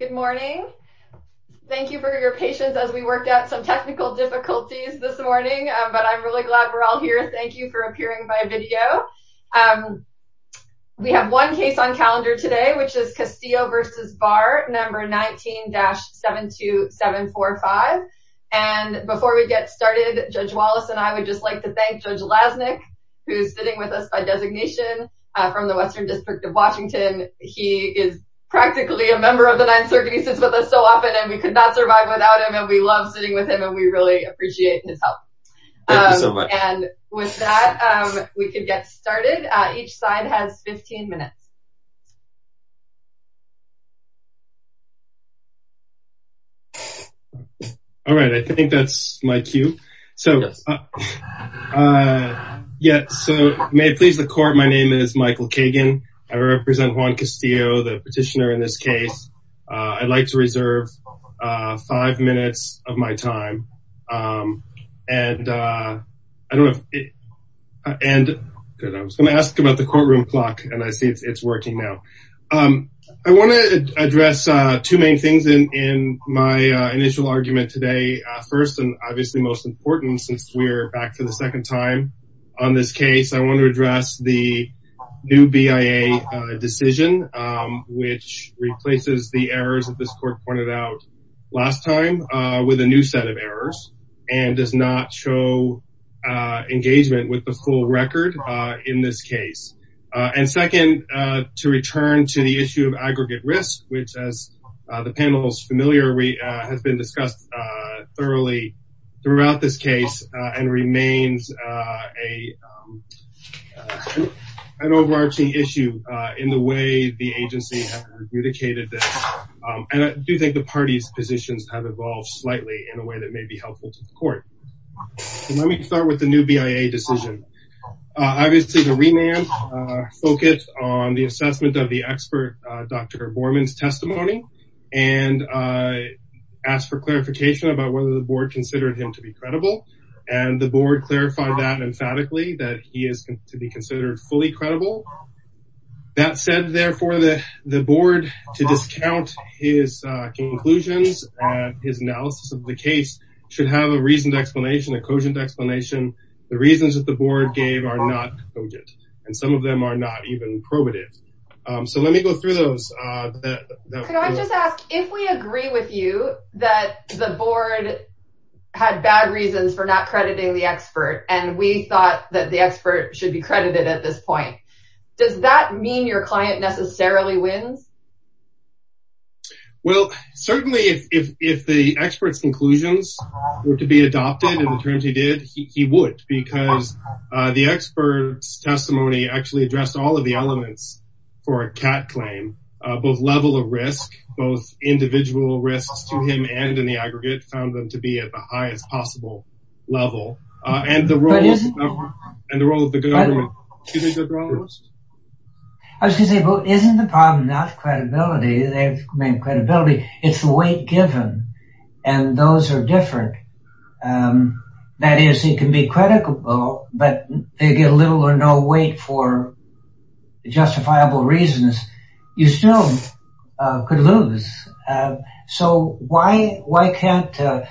Good morning. Thank you for your patience as we worked out some technical difficulties this morning, but I'm really glad we're all here. Thank you for appearing by video. We have one case on calendar today, which is Castillo v. Barr, number 19-72745. And before we get started, Judge Wallace and I would just like to thank Judge Lasnik, who's sitting with us by designation from the Western District of Washington. He is practically a member of the Ninth Circuit. He sits with us so often, and we could not survive without him. And we love sitting with him, and we really appreciate his help. And with that, we could get started. Each side has 15 minutes. All right, I think that's my cue. So yes, so may it please the court, my name is Michael Kagan. I represent Juan Castillo, the petitioner in this case. I'd like to reserve five minutes of my time. And I don't know, and I was going to ask about the courtroom clock, and I see it's working now. I want to address two main things in my initial argument today. First, and obviously most important since we're back for the second time on this case, I want to address the new BIA decision, which replaces the errors that this court pointed out last time with a new set of errors, and does not show engagement with the full record in this case. And second, to return to the issue of aggregate risk, which as the panel's familiar, has been discussed thoroughly throughout this case and remains an overarching issue in the way the agency has adjudicated this. And I do think the party's positions have evolved slightly in a way that may be helpful to the court. Let me start with the new BIA decision. Obviously, the remand focused on the assessment of the Dr. Borman's testimony, and I asked for clarification about whether the board considered him to be credible. And the board clarified that emphatically, that he is to be considered fully credible. That said, therefore, the board, to discount his conclusions and his analysis of the case, should have a reasoned explanation, a cogent explanation. The reasons that the board gave are not cogent, and some of them are not even probative. So let me go through those. Could I just ask, if we agree with you that the board had bad reasons for not crediting the expert, and we thought that the expert should be credited at this point, does that mean your client necessarily wins? Well, certainly, if the expert's conclusions were to be adopted, in the terms he did, he would, because the expert's testimony actually addressed all of the elements for a CAT claim, both level of risk, both individual risks to him and in the aggregate, found them to be at the highest possible level, and the role of the government. I was going to say, isn't the problem not credibility? They've made credibility, it's the weight given, and those are different. That is, it can be credible, but they get little or no weight for justifiable reasons. You still could lose. So why can't,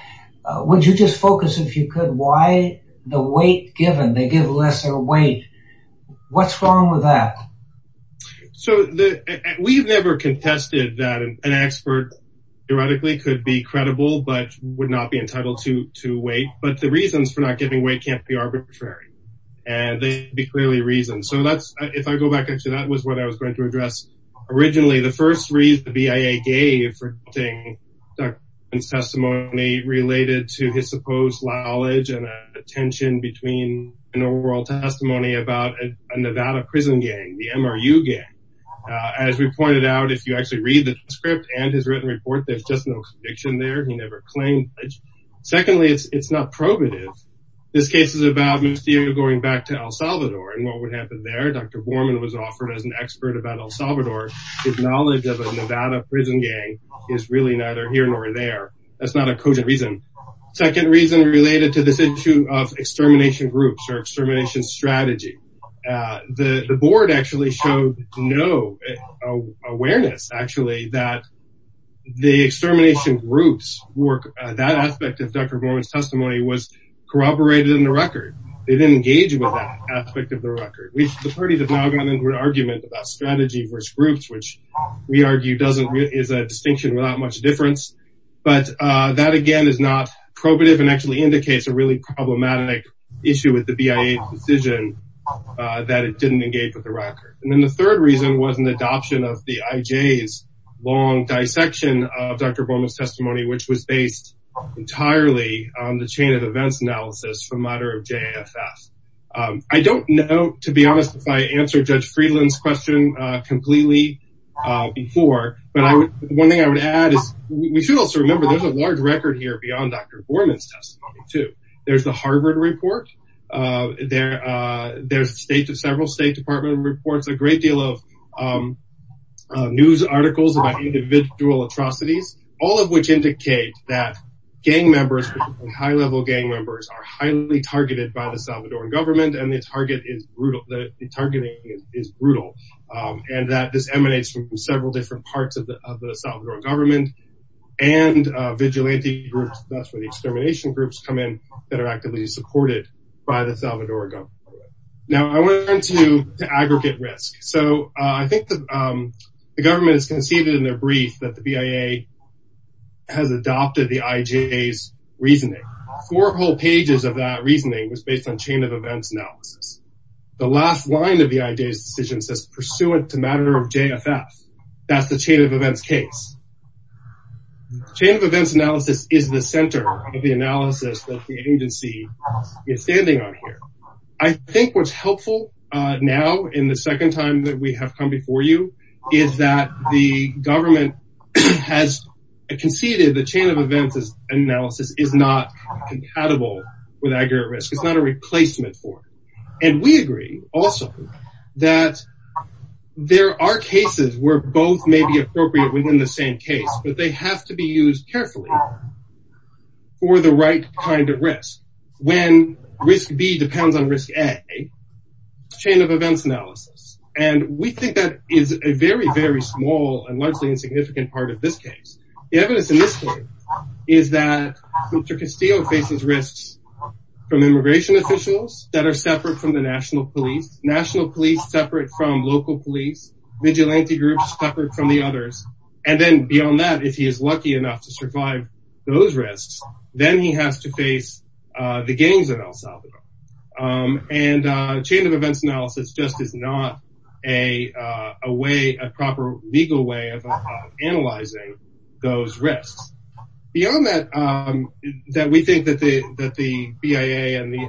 would you just focus, if you could, why the weight given, they give lesser weight, what's wrong with that? So we've never contested that an expert, theoretically, could be credible, but would not be entitled to weight, but the reasons for not giving weight can't be arbitrary, and they'd be clearly reasoned. So that's, if I go back, actually, that was what I was going to address originally. The first reason the BIA gave for the testimony related to his supposed knowledge and attention between an oral testimony about a Nevada prison gang, the MRU gang. As we pointed out, if you actually read the script and his written report, there's just no conviction there. He never claimed. Secondly, it's not probative. This case is about going back to El Salvador and what would happen there. Dr. Borman was offered as an expert about El Salvador. His knowledge of a Nevada prison gang is really neither here nor there. That's not a cogent reason. Second reason related to this issue of extermination groups or extermination strategy. The board actually showed no awareness, actually, that the extermination groups work, that aspect of Dr. Borman's testimony was corroborated in the record. They didn't engage with that aspect of the record. The parties have now gotten into an argument about strategy versus which we argue is a distinction without much difference. That, again, is not probative and actually indicates a really problematic issue with the BIA's decision that it didn't engage with the record. The third reason was an adoption of the IJ's long dissection of Dr. Borman's testimony, which was based entirely on the chain of events analysis from JFF. I don't know, to be clear. One thing I would add is we should also remember there's a large record here beyond Dr. Borman's testimony, too. There's the Harvard report. There's several State Department reports, a great deal of news articles about individual atrocities, all of which indicate that gang members and high-level gang members are highly targeted by the Salvadoran government. The evidence emanates from several different parts of the Salvadoran government and vigilante groups, that's where the extermination groups come in, that are actively supported by the Salvadoran government. Now, I went into the aggregate risk. I think the government has conceived in their brief that the BIA has adopted the IJ's reasoning. Four whole pages of that reasoning was based on JFF. That's the chain of events case. Chain of events analysis is the center of the analysis that the agency is standing on here. I think what's helpful now in the second time that we have come before you is that the government has conceded the chain of events analysis is not compatible with aggregate risk. It's not a replacement for it. And we agree also that there are cases where both may be appropriate within the same case, but they have to be used carefully for the right kind of risk. When risk B depends on risk A, chain of events analysis, and we think that is a very, very small and largely insignificant part of this case. The evidence in this case is that Mr. Castillo faces risks from immigration officials that are separate from local police, vigilante groups separate from the others. And then beyond that, if he is lucky enough to survive those risks, then he has to face the gangs in El Salvador. And chain of events analysis just is not a proper legal way of analyzing those risks. Beyond that, that we think that the BIA and the...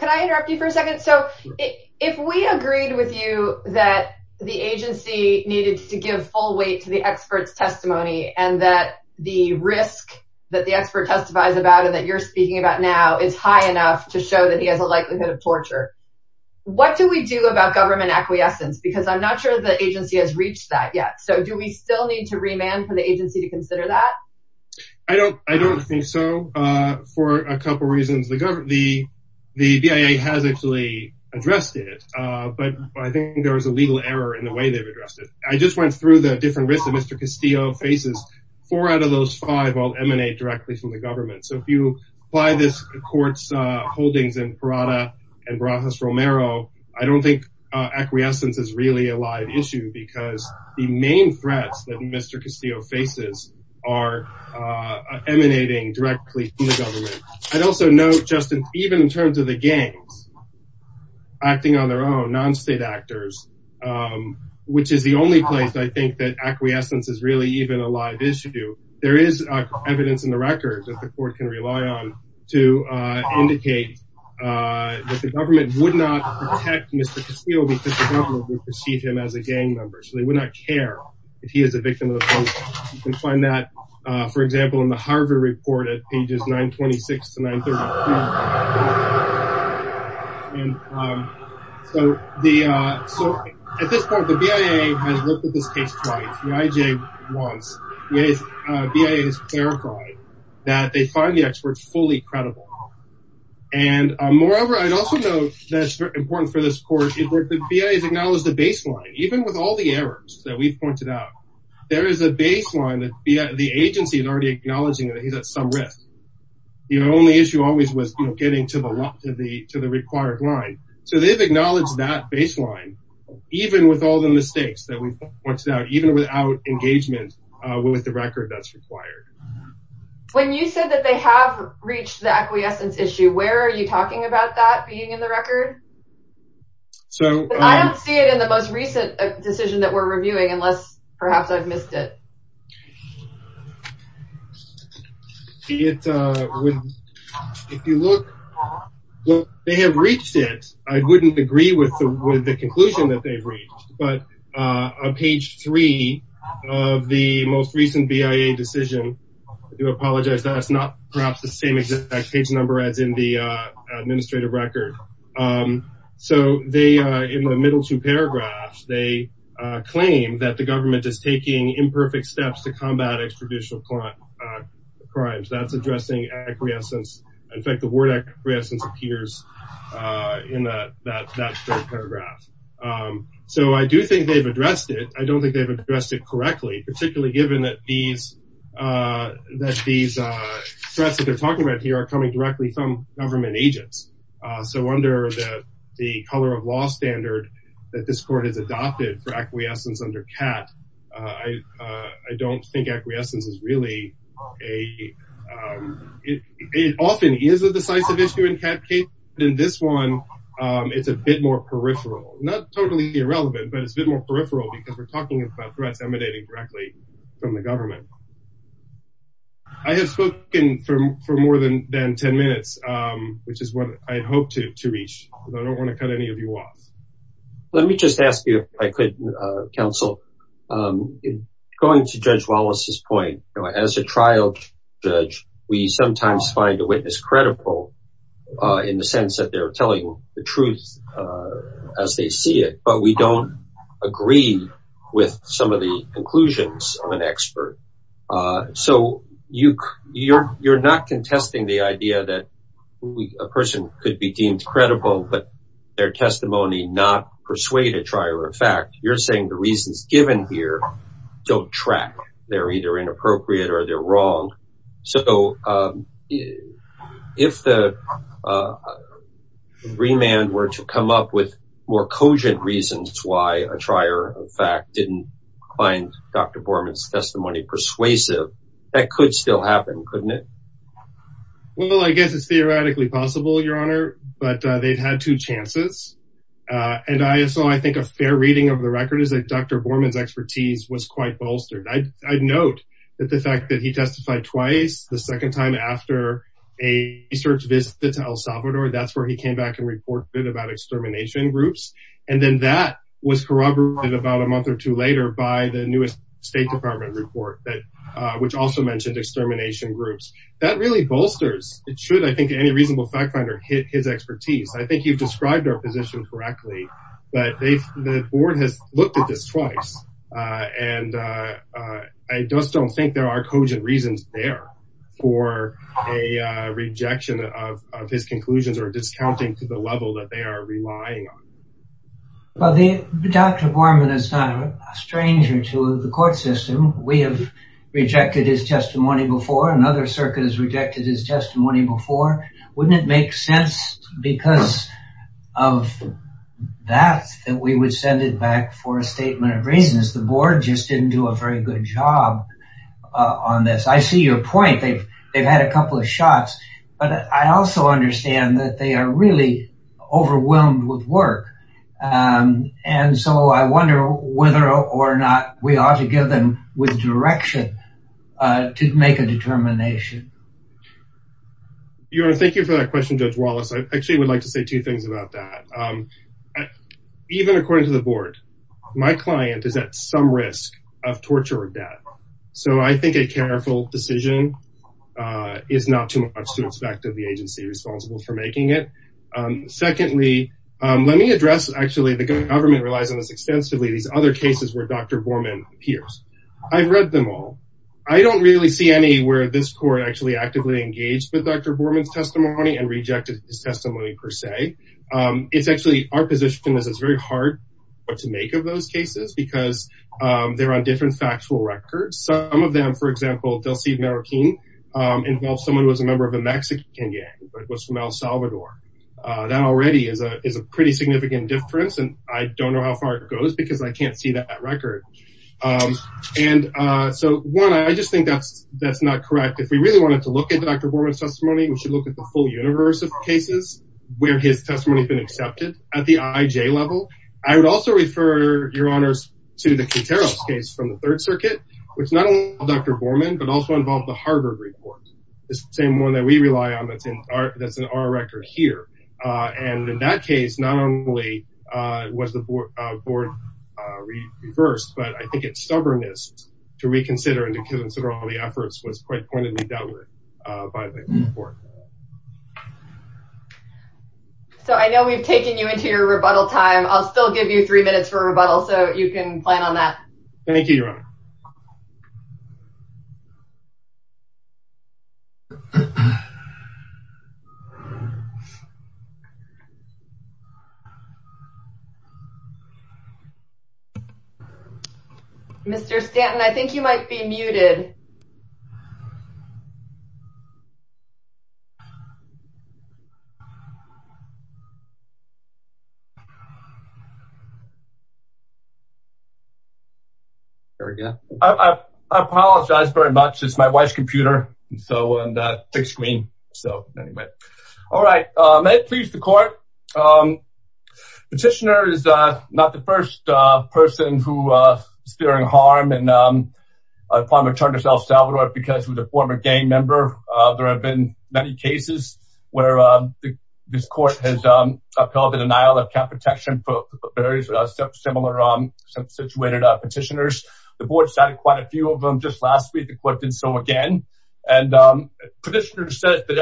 Can I interrupt you for a second? So if we agreed with you that the agency needed to give full weight to the expert's testimony and that the risk that the expert testifies about and that you're speaking about now is high enough to show that he has a likelihood of torture, what do we do about government acquiescence? Because I'm not sure the agency has reached that yet. So do we still need to remand for the agency to consider that? I don't think so for a couple of reasons. The BIA has actually addressed it, but I think there was a legal error in the way they've addressed it. I just went through the different risks that Mr. Castillo faces. Four out of those five all emanate directly from the government. So if you apply this to the court's holdings in Parada and Barajas Romero, I don't think acquiescence is really a live issue because the main threats that Mr. Castillo faces are emanating directly from the government. I'd also note, Justin, even in terms of the gangs acting on their own, non-state actors, which is the only place I think that acquiescence is really even a live issue, there is evidence in the record that the court can rely on to indicate that the government would not protect Mr. Castillo because the government would perceive him as a gang member. So they would not care if he is a victim of the police. You can find that, for example, in the Harvard report at pages 926 to 930. So at this point, the BIA has looked at this case twice. The IJ once. The BIA has clarified that they find the experts fully credible. And moreover, I'd also note that it's important for this court, the BIA has acknowledged the baseline. Even with all the errors that we've pointed out, there is a baseline that the agency is already acknowledging that he's at some risk. The only issue always was getting to the required line. So they've acknowledged that baseline, even with all the mistakes that we've pointed out, even without engagement with the record that's required. When you said that they have reached the acquiescence issue, where are you talking about that being in the record? I don't see it in the most recent decision that we're reviewing unless perhaps I've missed it. If you look, they have reached it. I wouldn't agree with the conclusion that they've reached, but on page three of the most recent BIA decision, I do apologize that it's not perhaps the same exact page number as in the administrative record. So in the middle two paragraphs, they claim that the government is taking imperfect steps to combat extrajudicial crimes. That's addressing acquiescence. In fact, the word acquiescence appears in that third paragraph. So I do think they've addressed it. I don't think they've addressed it correctly, particularly given that these threats that they're talking about here are coming directly from government agents. So under the color of law standard that this court has adopted for acquiescence under CAT, I don't think acquiescence is really a... It often is a in this one, it's a bit more peripheral, not totally irrelevant, but it's a bit more peripheral because we're talking about threats emanating directly from the government. I have spoken for more than 10 minutes, which is what I hope to reach. I don't want to cut any of you off. Let me just ask you if I could, counsel, going to Judge Wallace's point, as a trial judge, we sometimes find a witness credible in the sense that they're telling the truth as they see it, but we don't agree with some of the conclusions of an expert. So you're not contesting the idea that a person could be deemed credible, but their testimony not persuade a trier of fact. You're saying the reasons given here don't track. They're either inappropriate or they're wrong. So if the remand were to come up with more cogent reasons why a trier of fact didn't find Dr. Borman's testimony persuasive, that could still happen, couldn't it? Well, I guess it's theoretically possible, Your Honor, but they've had two chances. And so I think a fair reading of the record is that Dr. Borman's expertise was quite bolstered. I'd note that the fact that he testified twice, the second time after a research visit to El Salvador, that's where he came back and reported about extermination groups. And then that was corroborated about a month or two later by the newest State Department report, which also mentioned extermination groups. That really bolsters should, I think, any reasonable fact finder hit his expertise. I think you've described our position correctly, but the board has looked at this twice. And I just don't think there are cogent reasons there for a rejection of his conclusions or discounting to the level that they are relying on. Well, Dr. Borman is not a stranger to the court system. We have rejected his testimony before. Another circuit has rejected his testimony before. Wouldn't it make sense because of that, that we would send it back for a statement of reasons? The board just didn't do a very good job on this. I see your point. They've had a couple of shots, but I also understand that they are really overwhelmed with we ought to give them with direction to make a determination. Your Honor, thank you for that question, Judge Wallace. I actually would like to say two things about that. Even according to the board, my client is at some risk of torture or death. So I think a careful decision is not too much to expect of the agency responsible for making it. Secondly, let me address, actually, the government relies on this extensively, these other cases where Dr. Borman appears. I've read them all. I don't really see anywhere this court actually actively engaged with Dr. Borman's testimony and rejected his testimony, per se. It's actually our position is it's very hard to make of those cases because they're on different factual records. Some of them, for example, Del Cid Marroquin involved someone who was a member of a Mexican gang, but was from El Salvador. That already is a pretty significant difference, and I don't know how far it goes because I can't see that record. And so, one, I just think that's not correct. If we really wanted to look at Dr. Borman's testimony, we should look at the full universe of cases where his testimony has been accepted at the IJ level. I would also refer, Your Honors, to the Quinteros case from the Third Circuit, which not only involved Dr. Borman, but also involved the Harvard report, the same one that we rely on that's in our record here. And in that case, not only was the board reversed, but I think its stubbornness to reconsider and to consider all the efforts was quite pointedly downward by the board. So, I know we've taken you into your rebuttal time. I'll still give you three minutes for rebuttal, so you can plan on that. Thank you, Your Honor. Mr. Stanton, I think you might be muted. There we go. I apologize very much. It's my wife's computer, and so, and thick screen. So, anyway. All right. May it please the court. Petitioner is not the first person who is fearing harm in former Charters El Salvador because he was a former gang member. There have been many cases where this court has upheld the denial of cap protection for various similar situated petitioners. The board cited quite a few of them just last week. The court did so again. And petitioner says that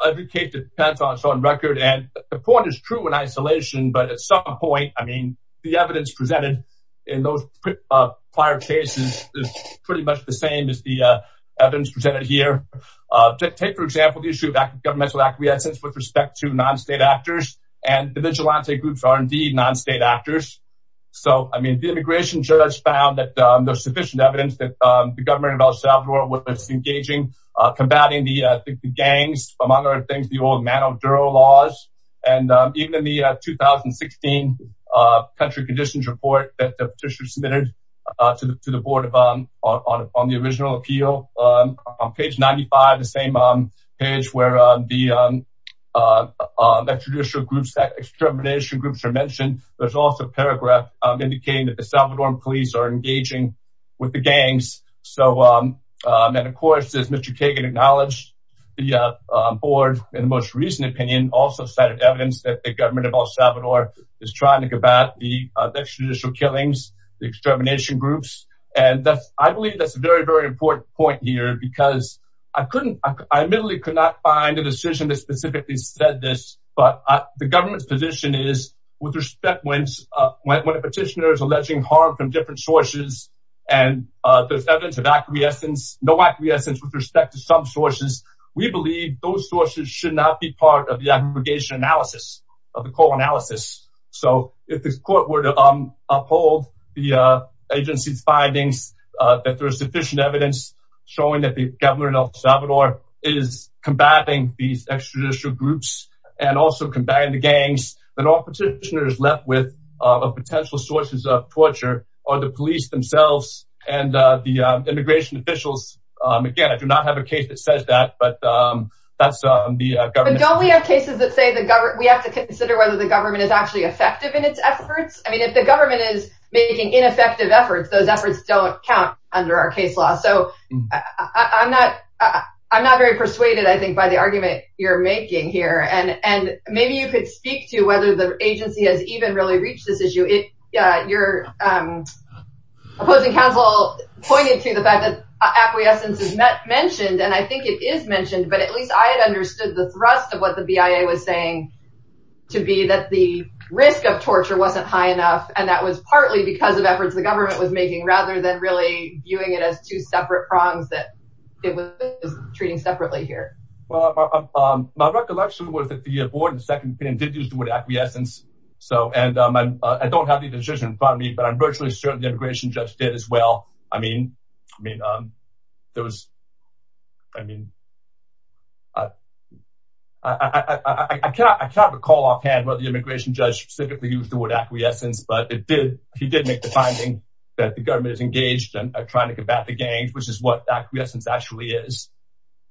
every case depends on its own record. And the point is true in isolation, but at some point, I mean, the evidence presented in those prior cases is pretty much the same as the evidence presented here. Take, for example, the issue of governmental acquiescence with respect to non-state actors, and the vigilante groups are indeed non-state actors. So, I mean, the immigration judge found that there's sufficient evidence that the government of El Salvador was engaging, combating the gangs, among other things, the old Mano Duro laws. And even in the 2016 country conditions report that the petitioner submitted to the board on the original appeal, on page 95, the same page where the traditional groups that extermination groups are mentioned, there's also a paragraph indicating that the Salvadoran police are engaging with the gangs. So, and of course, as Mr. Kagan acknowledged, the board, in the most recent opinion, also cited evidence that the government of El Salvador is trying to combat the extrajudicial killings, the extermination groups. And that's, I believe that's a very, very important point here, because I couldn't, I admittedly could not find a decision that specifically said this, but the government's position is with respect when a petitioner is alleging harm from different sources, and there's evidence of acquiescence, no acquiescence with respect to some sources, we believe those sources should not be part of the aggregation analysis of the core analysis. So, if the court were to uphold the agency's findings, that there's sufficient evidence showing that the government of El Salvador is combating these extrajudicial groups, and also combating the gangs, then all petitioners left with potential sources of torture are the police themselves, and the immigration officials. Again, I do not have a case that says that, but that's the government. Don't we have cases that say the government, we have to consider whether the government is actually effective in its efforts. I mean, if the government is making ineffective efforts, those efforts don't count under our case law. So I'm not, I'm not very persuaded, I think, by the argument you're making here. And maybe you could speak to whether the agency has even really reached this issue. Your opposing counsel pointed to the fact that acquiescence is mentioned, and I think it is mentioned, but at least I had understood the thrust of what the BIA was saying to be that the risk of torture wasn't high enough, and that was partly because of efforts the government was making, rather than really viewing it as two separate prongs that it was treating separately here. Well, my recollection was that the board did use the word acquiescence, and I don't have the decision in front of me, but I'm virtually certain the immigration judge did as well. I mean, there was, I mean, I can't recall offhand whether the immigration judge specifically used the word acquiescence, but he did make the finding that the government is engaged and trying to combat the gangs, which is what acquiescence actually is.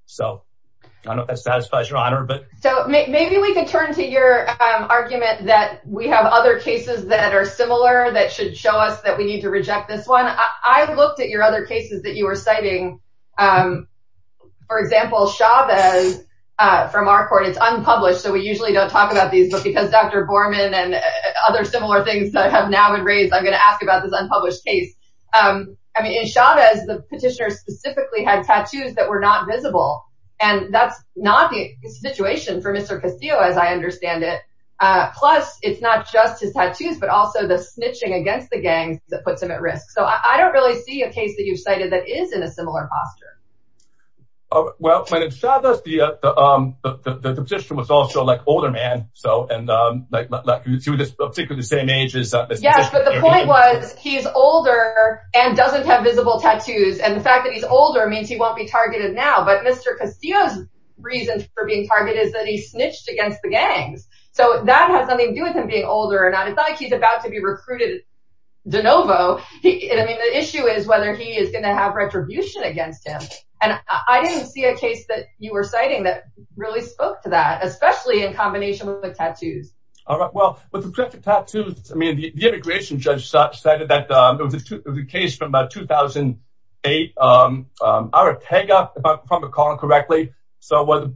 So I don't know if that satisfies your honor. So maybe we could turn to your argument that we have other cases that are similar that should show us that we need to reject this one. I looked at your other cases that you were citing. For example, Chavez, from our court, it's unpublished, so we usually don't talk about these, but because Dr. Borman and other similar things that I have now been raised, I'm going to ask about this unpublished case. I mean, in Chavez, the petitioner specifically had tattoos that were not visible, and that's not the situation for Mr. Castillo, as I understand it. Plus, it's not just his tattoos, but also the snitching against the gangs that puts him at risk. So I don't really see a case that you've cited that is in a similar posture. Well, in Chavez, the petitioner was also an older man, and he was particularly the same age. Yes, but the point was he's older and doesn't have visible tattoos, and the fact that he's older means he won't be targeted now. But Mr. Castillo's reason for being targeted is that he snitched against the gangs. So that has nothing to do with him being older or not. It's not like he's about to be recruited de novo. I mean, the issue is whether he is going to have retribution against him. And I didn't see a case that you were citing that really spoke to that, especially in combination with the tattoos. All right. Well, with respect to tattoos, I mean, the immigration judge cited that there was a case from about 2008, Arretega, if I'm recalling correctly. So there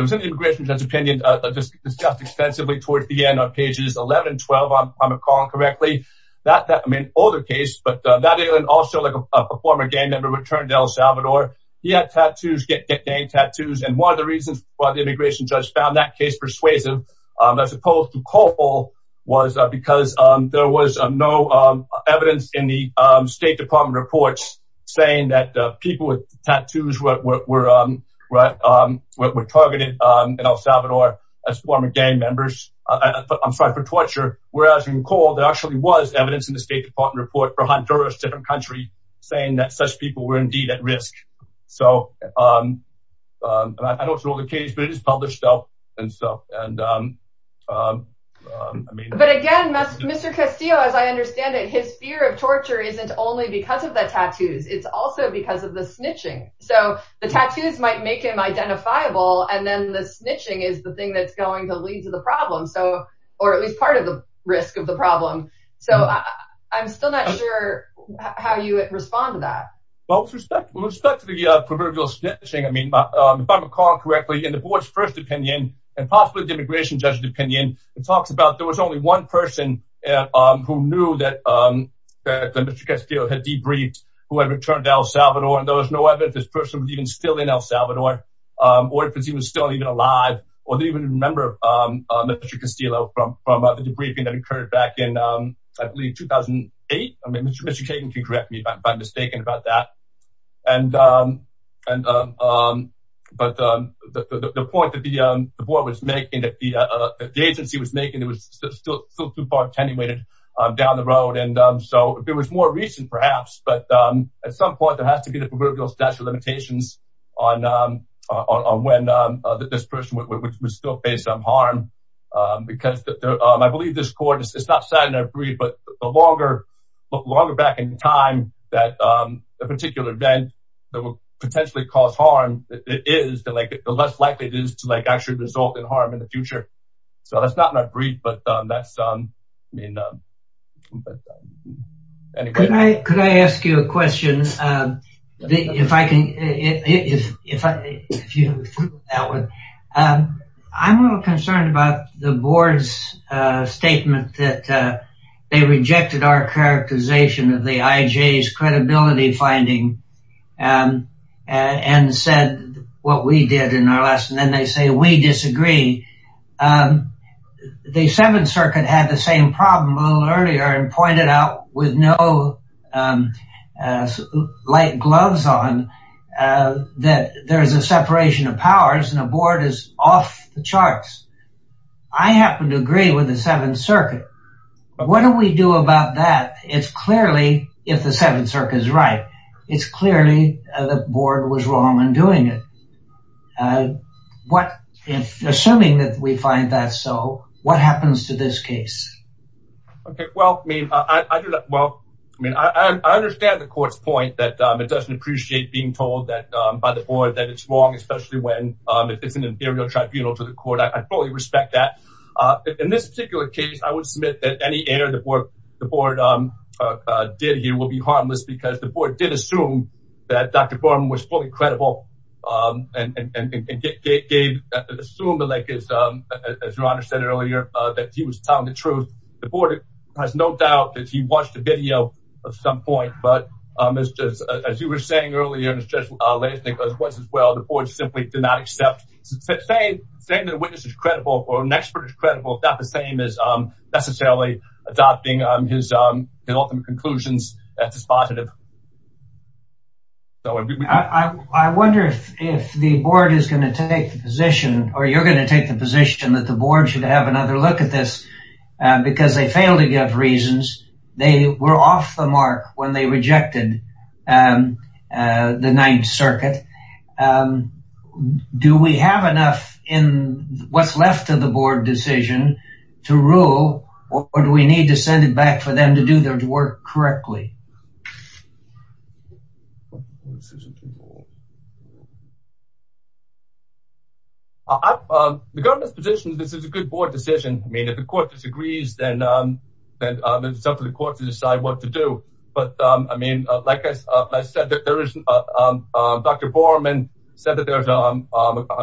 was an immigration judge opinion that was discussed extensively towards the end on pages 11 and 12, if I'm recalling correctly. I mean, an older case, but also like a former gang member returned to El Salvador. He had tattoos, gang tattoos. And one of the reasons why the immigration judge found that case persuasive, as opposed to Cole, was because there was no evidence in the State Department reports saying that people with tattoos were targeted in El Salvador as former gang members. I'm sorry for torture. Whereas in Honduras, a different country saying that such people were indeed at risk. So I don't know the case, but it is published up. But again, Mr. Castillo, as I understand it, his fear of torture isn't only because of the tattoos, it's also because of the snitching. So the tattoos might make him identifiable. And then the snitching is the thing that's going to lead to the problem. So, at least part of the risk of the problem. So I'm still not sure how you respond to that. Well, with respect to the proverbial snitching, I mean, if I'm recalling correctly, in the board's first opinion, and possibly the immigration judge's opinion, it talks about there was only one person who knew that Mr. Castillo had debriefed whoever returned to El Salvador. And there was no evidence this person was even still in El Salvador, or if he was still even alive, or the debriefing that occurred back in, I believe, 2008. I mean, Mr. Kagan can correct me if I'm mistaken about that. But the point that the agency was making, it was still too far attenuated down the road. And so if it was more recent, perhaps, but at some point, there has to be the proverbial statute of limitations on when this person would still face harm. Because I believe this court, it's not sat in a brief, but the longer back in time that a particular event that will potentially cause harm, it is the less likely it is to actually result in harm in the future. So that's not in a brief, but that's, I mean... Could I ask you a question? I'm a little concerned about the board's statement that they rejected our characterization of the IJ's credibility finding, and said what we did in our lesson, and then they say we disagree. The Seventh Circuit had the same problem a little earlier and pointed out with no light gloves on that there is a separation of powers and a board is off the charts. I happen to agree with the Seventh Circuit. But what do we do about that? It's clearly, if the Seventh Circuit is right, it's clearly the board was wrong in doing it. And what if, assuming that we find that so, what happens to this case? Okay, well, I mean, I do that. Well, I mean, I understand the court's point that it doesn't appreciate being told that by the board that it's wrong, especially when it's an imperial tribunal to the court. I fully respect that. In this particular case, I would submit that any error the board did here will be harmless because the board did assume that Dr. Borman was fully credible and assumed, as your Honor said earlier, that he was telling the truth. The board has no doubt that he watched the video at some point, but as you were saying earlier, and as Judge Leisnick was as well, the board simply did not accept. Saying that a witness is credible or an expert is credible is not the same as necessarily adopting his ultimate conclusions as positive. So, I wonder if the board is going to take the position, or you're going to take the position that the board should have another look at this, because they failed to give reasons. They were off the mark when they rejected the Ninth Circuit. Do we have enough in what's left of the board decision to rule, or do we need to send it back for them to do their work correctly? The government's position is that this is a good board decision. I mean, if the court disagrees, then it's up to the court to decide what to do. But, I mean, like I said, Dr. Borman said that there's an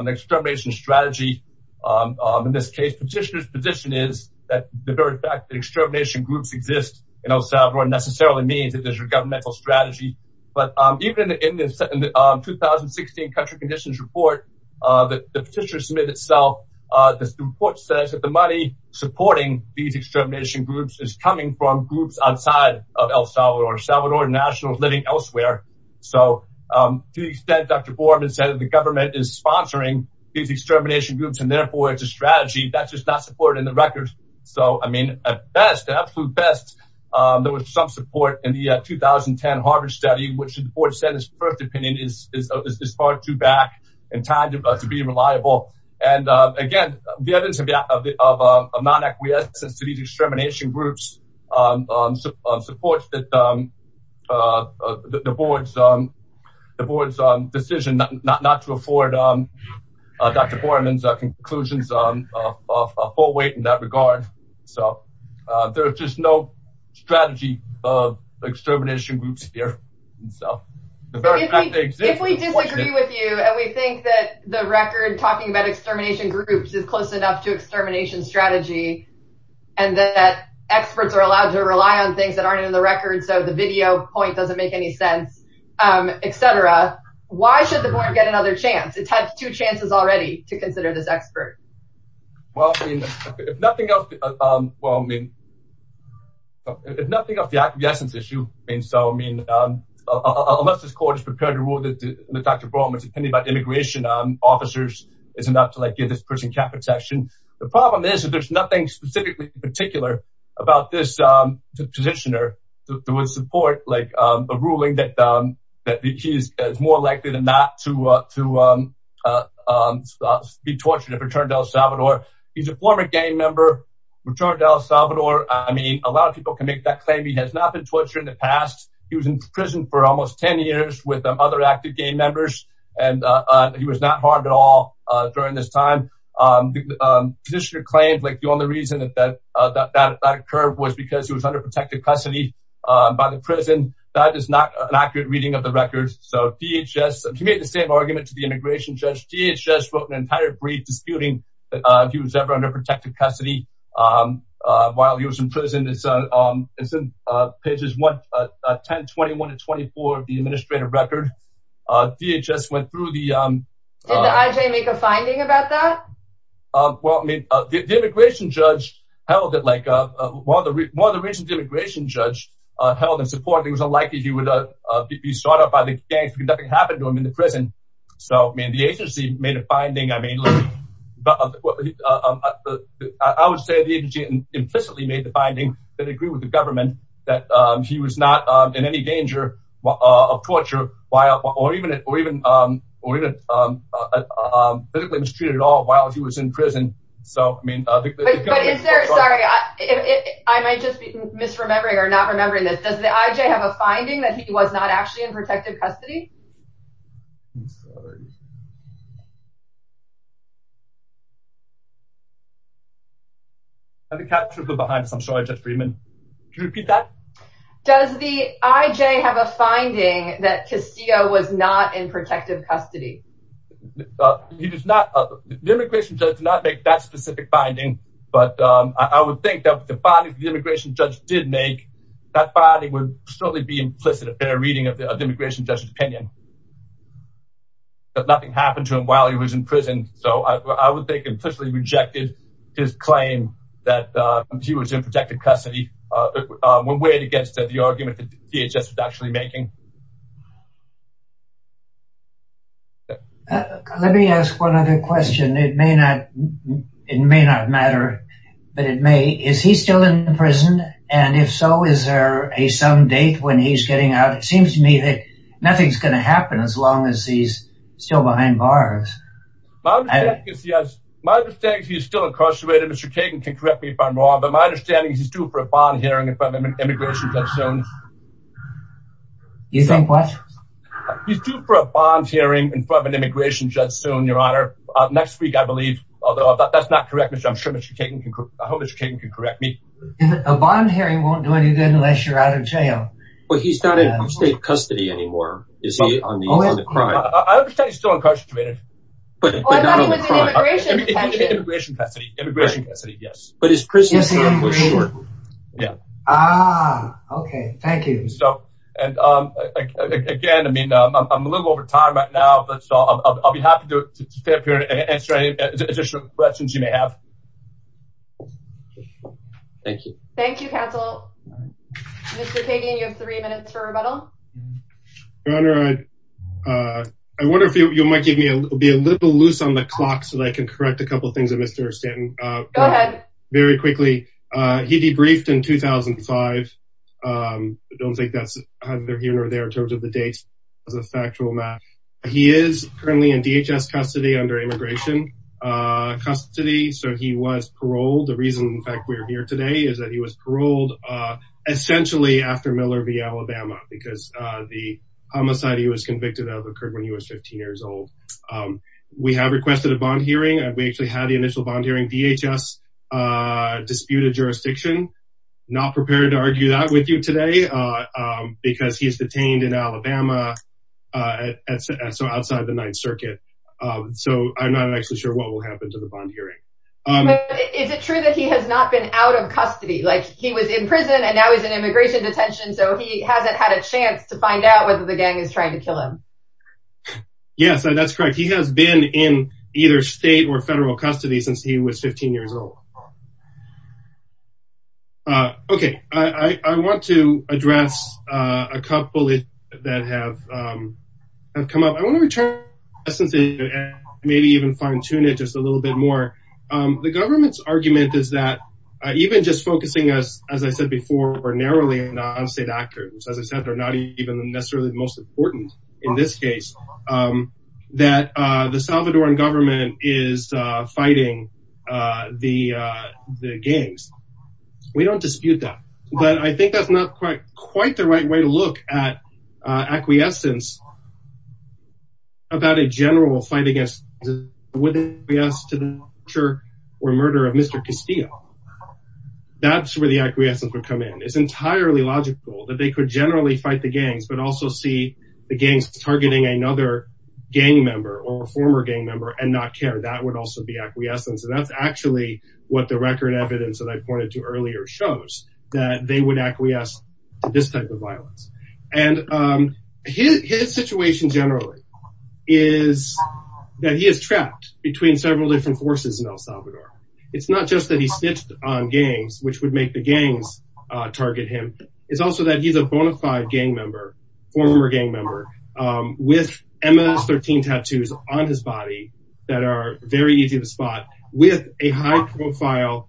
extermination strategy in this case. Petitioner's position is that the very fact that extermination groups exist in El Salvador doesn't necessarily mean that they're going to be governmental strategy. But even in the 2016 country conditions report that the petitioner submitted itself, the report says that the money supporting these extermination groups is coming from groups outside of El Salvador. El Salvador national is living elsewhere. So, to the extent Dr. Borman said that the government is sponsoring these extermination groups, and therefore it's a strategy, that's just not supported in the records. So, I mean, at best, absolute best, there was some support in the 2010 Harvard study, which the board said its first opinion is far too back in time to be reliable. And, again, the evidence of non-acquiescence to these extermination groups supports the board's decision not to afford Dr. Borman's conclusions of full weight in that strategy of extermination groups here. If we disagree with you, and we think that the record talking about extermination groups is close enough to extermination strategy, and that experts are allowed to rely on things that aren't in the record, so the video point doesn't make any sense, etc., why should the board get another chance? It's had two chances already to consider this It's nothing of the acquiescence issue. So, I mean, unless this court is prepared to rule that Dr. Borman's opinion about immigration officers is enough to give this person cap protection, the problem is that there's nothing specifically particular about this positioner that would support a ruling that he is more likely than not to be tortured and return to Salvador. I mean, a lot of people can make that claim. He has not been tortured in the past. He was in prison for almost 10 years with other active gang members, and he was not harmed at all during this time. The positioner claimed like the only reason that that occurred was because he was under protected custody by the prison. That is not an accurate reading of the records. So DHS, he made the same argument to the immigration judge. DHS wrote an entire brief disputing he was ever under protected custody while he was in prison. It's in pages 10, 21 to 24 of the administrative record. DHS went through the... Did the IJ make a finding about that? Well, I mean, the immigration judge held it like... One of the reasons the immigration judge held in support, it was unlikely he would be sought out by the gangs because nothing happened to him in the prison. So, I mean, the agency made a finding. I mean, I would say the agency implicitly made the finding that agreed with the government that he was not in any danger of torture or even physically mistreated at all while he was in prison. So, I mean... But is there... Sorry, I might just be misremembering or not remembering this. Does the IJ have a finding that he was not actually in protected custody? I'm sorry. I think I'm sort of behind this. I'm sorry, Judge Friedman. Could you repeat that? Does the IJ have a finding that Castillo was not in protected custody? He does not... The immigration judge did not make that specific finding, but I would think that the finding the immigration judge did make, that finding would certainly be implicit in a reading of the immigration judge's opinion. That nothing happened to him while he was in prison. So, I would think implicitly rejected his claim that he was in protected custody when weighed against the argument that DHS was actually making. Let me ask one other question. It may not matter, but it may. Is he still in prison? And if so, is there a some date when he's getting out? It seems to me that it's going to happen as long as he's still behind bars. My understanding is he's still incarcerated. Mr. Kagan can correct me if I'm wrong, but my understanding is he's due for a bond hearing in front of an immigration judge soon. You think what? He's due for a bond hearing in front of an immigration judge soon, Your Honor, next week, I believe. Although, if that's not correct, I'm sure Mr. Kagan can... I hope Mr. Kagan can correct me. A bond hearing won't do any good unless you're out of jail. Well, he's not in state custody anymore, is he, on the crime? I understand he's still incarcerated. But not on the crime. Oh, I thought he was in immigration detention. Immigration custody. Immigration custody, yes. But his prison term was short. Ah, okay. Thank you. Again, I mean, I'm a little over time right now, but I'll be happy to stay up here and answer any additional questions you may have. Thank you. Thank you, counsel. Mr. Kagan, you have three minutes for rebuttal. Your Honor, I wonder if you might be a little loose on the clock, so that I can correct a couple of things that Mr. Stanton... Go ahead. Very quickly. He debriefed in 2005. I don't think that's either here or there in terms of the dates. It's a factual matter. He is currently in DHS custody under immigration custody. So he was paroled. The reason, in fact, we're here today is that he was paroled essentially after Miller v. Alabama, because the homicide he was convicted of occurred when he was 15 years old. We have requested a bond hearing. We actually had the initial bond hearing. DHS disputed jurisdiction. Not prepared to argue that with you today, because he is detained in Alabama, so outside the Ninth Circuit. So I'm not actually sure what will happen to the bond hearing. But is it true that he has not been out of custody? Like he was in prison, and now he's in immigration detention, so he hasn't had a chance to find out whether the gang is trying to kill him. Yes, that's correct. He has been in either state or federal custody since he was 15 years old. Okay, I want to address a couple that have come up. I want to return to the essence, maybe even fine-tune it just a little bit more. The government's argument is that even just focusing us, as I said before, more narrowly on non-state actors, as I said, they're not even necessarily the most important in this case, that the Salvadoran government is fighting the gangs. We don't dispute that. But I think that's not quite the right way to look at acquiescence about a general fighting against the gangs. Would they acquiesce to the torture or murder of Mr. Castillo? That's where the acquiescence would come in. It's entirely logical that they could generally fight the gangs, but also see the gangs targeting another gang member, or a former gang member, and not care. That would also be acquiescence. And that's actually what the record evidence that I pointed to earlier shows, that they would acquiesce to this type of violence. And his situation generally is that he is trapped between several different forces in El Salvador. It's not just that he snitched on gangs, which would make the gangs target him. It's also that he's a bona fide gang member, former gang member, with MS-13 tattoos on his body that are very easy to spot, with a high-profile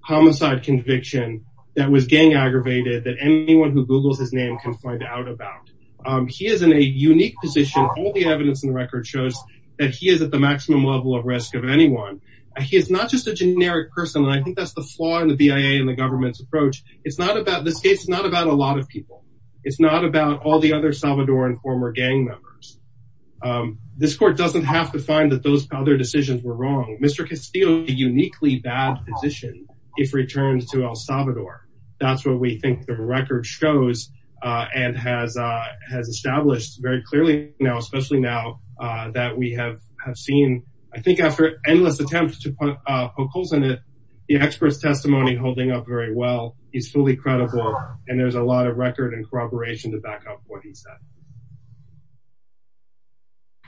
homicide conviction that was gang aggravated, that anyone who Googles his name can find out about. He is in a unique position. All the evidence in the record shows that he is at the maximum level of risk of anyone. He is not just a generic person, and I think that's the flaw in the BIA and the government's approach. This case is not about a lot of people. It's not about all the other Salvadoran former gang members. This court doesn't have to find that those other decisions were wrong. Mr. Castillo is in a uniquely bad position if returned to El Salvador. That's what we think the record shows and has established very clearly now, especially now that we have seen, I think, after endless attempts to put holes in it, the expert's testimony holding up very well is fully credible, and there's a lot of record and corroboration to back up what he said.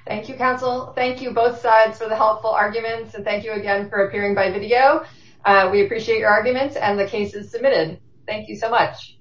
Thank you, counsel. Thank you, both sides, for the helpful arguments, and thank you again for appearing by video. We appreciate your arguments and the cases submitted. Thank you so much.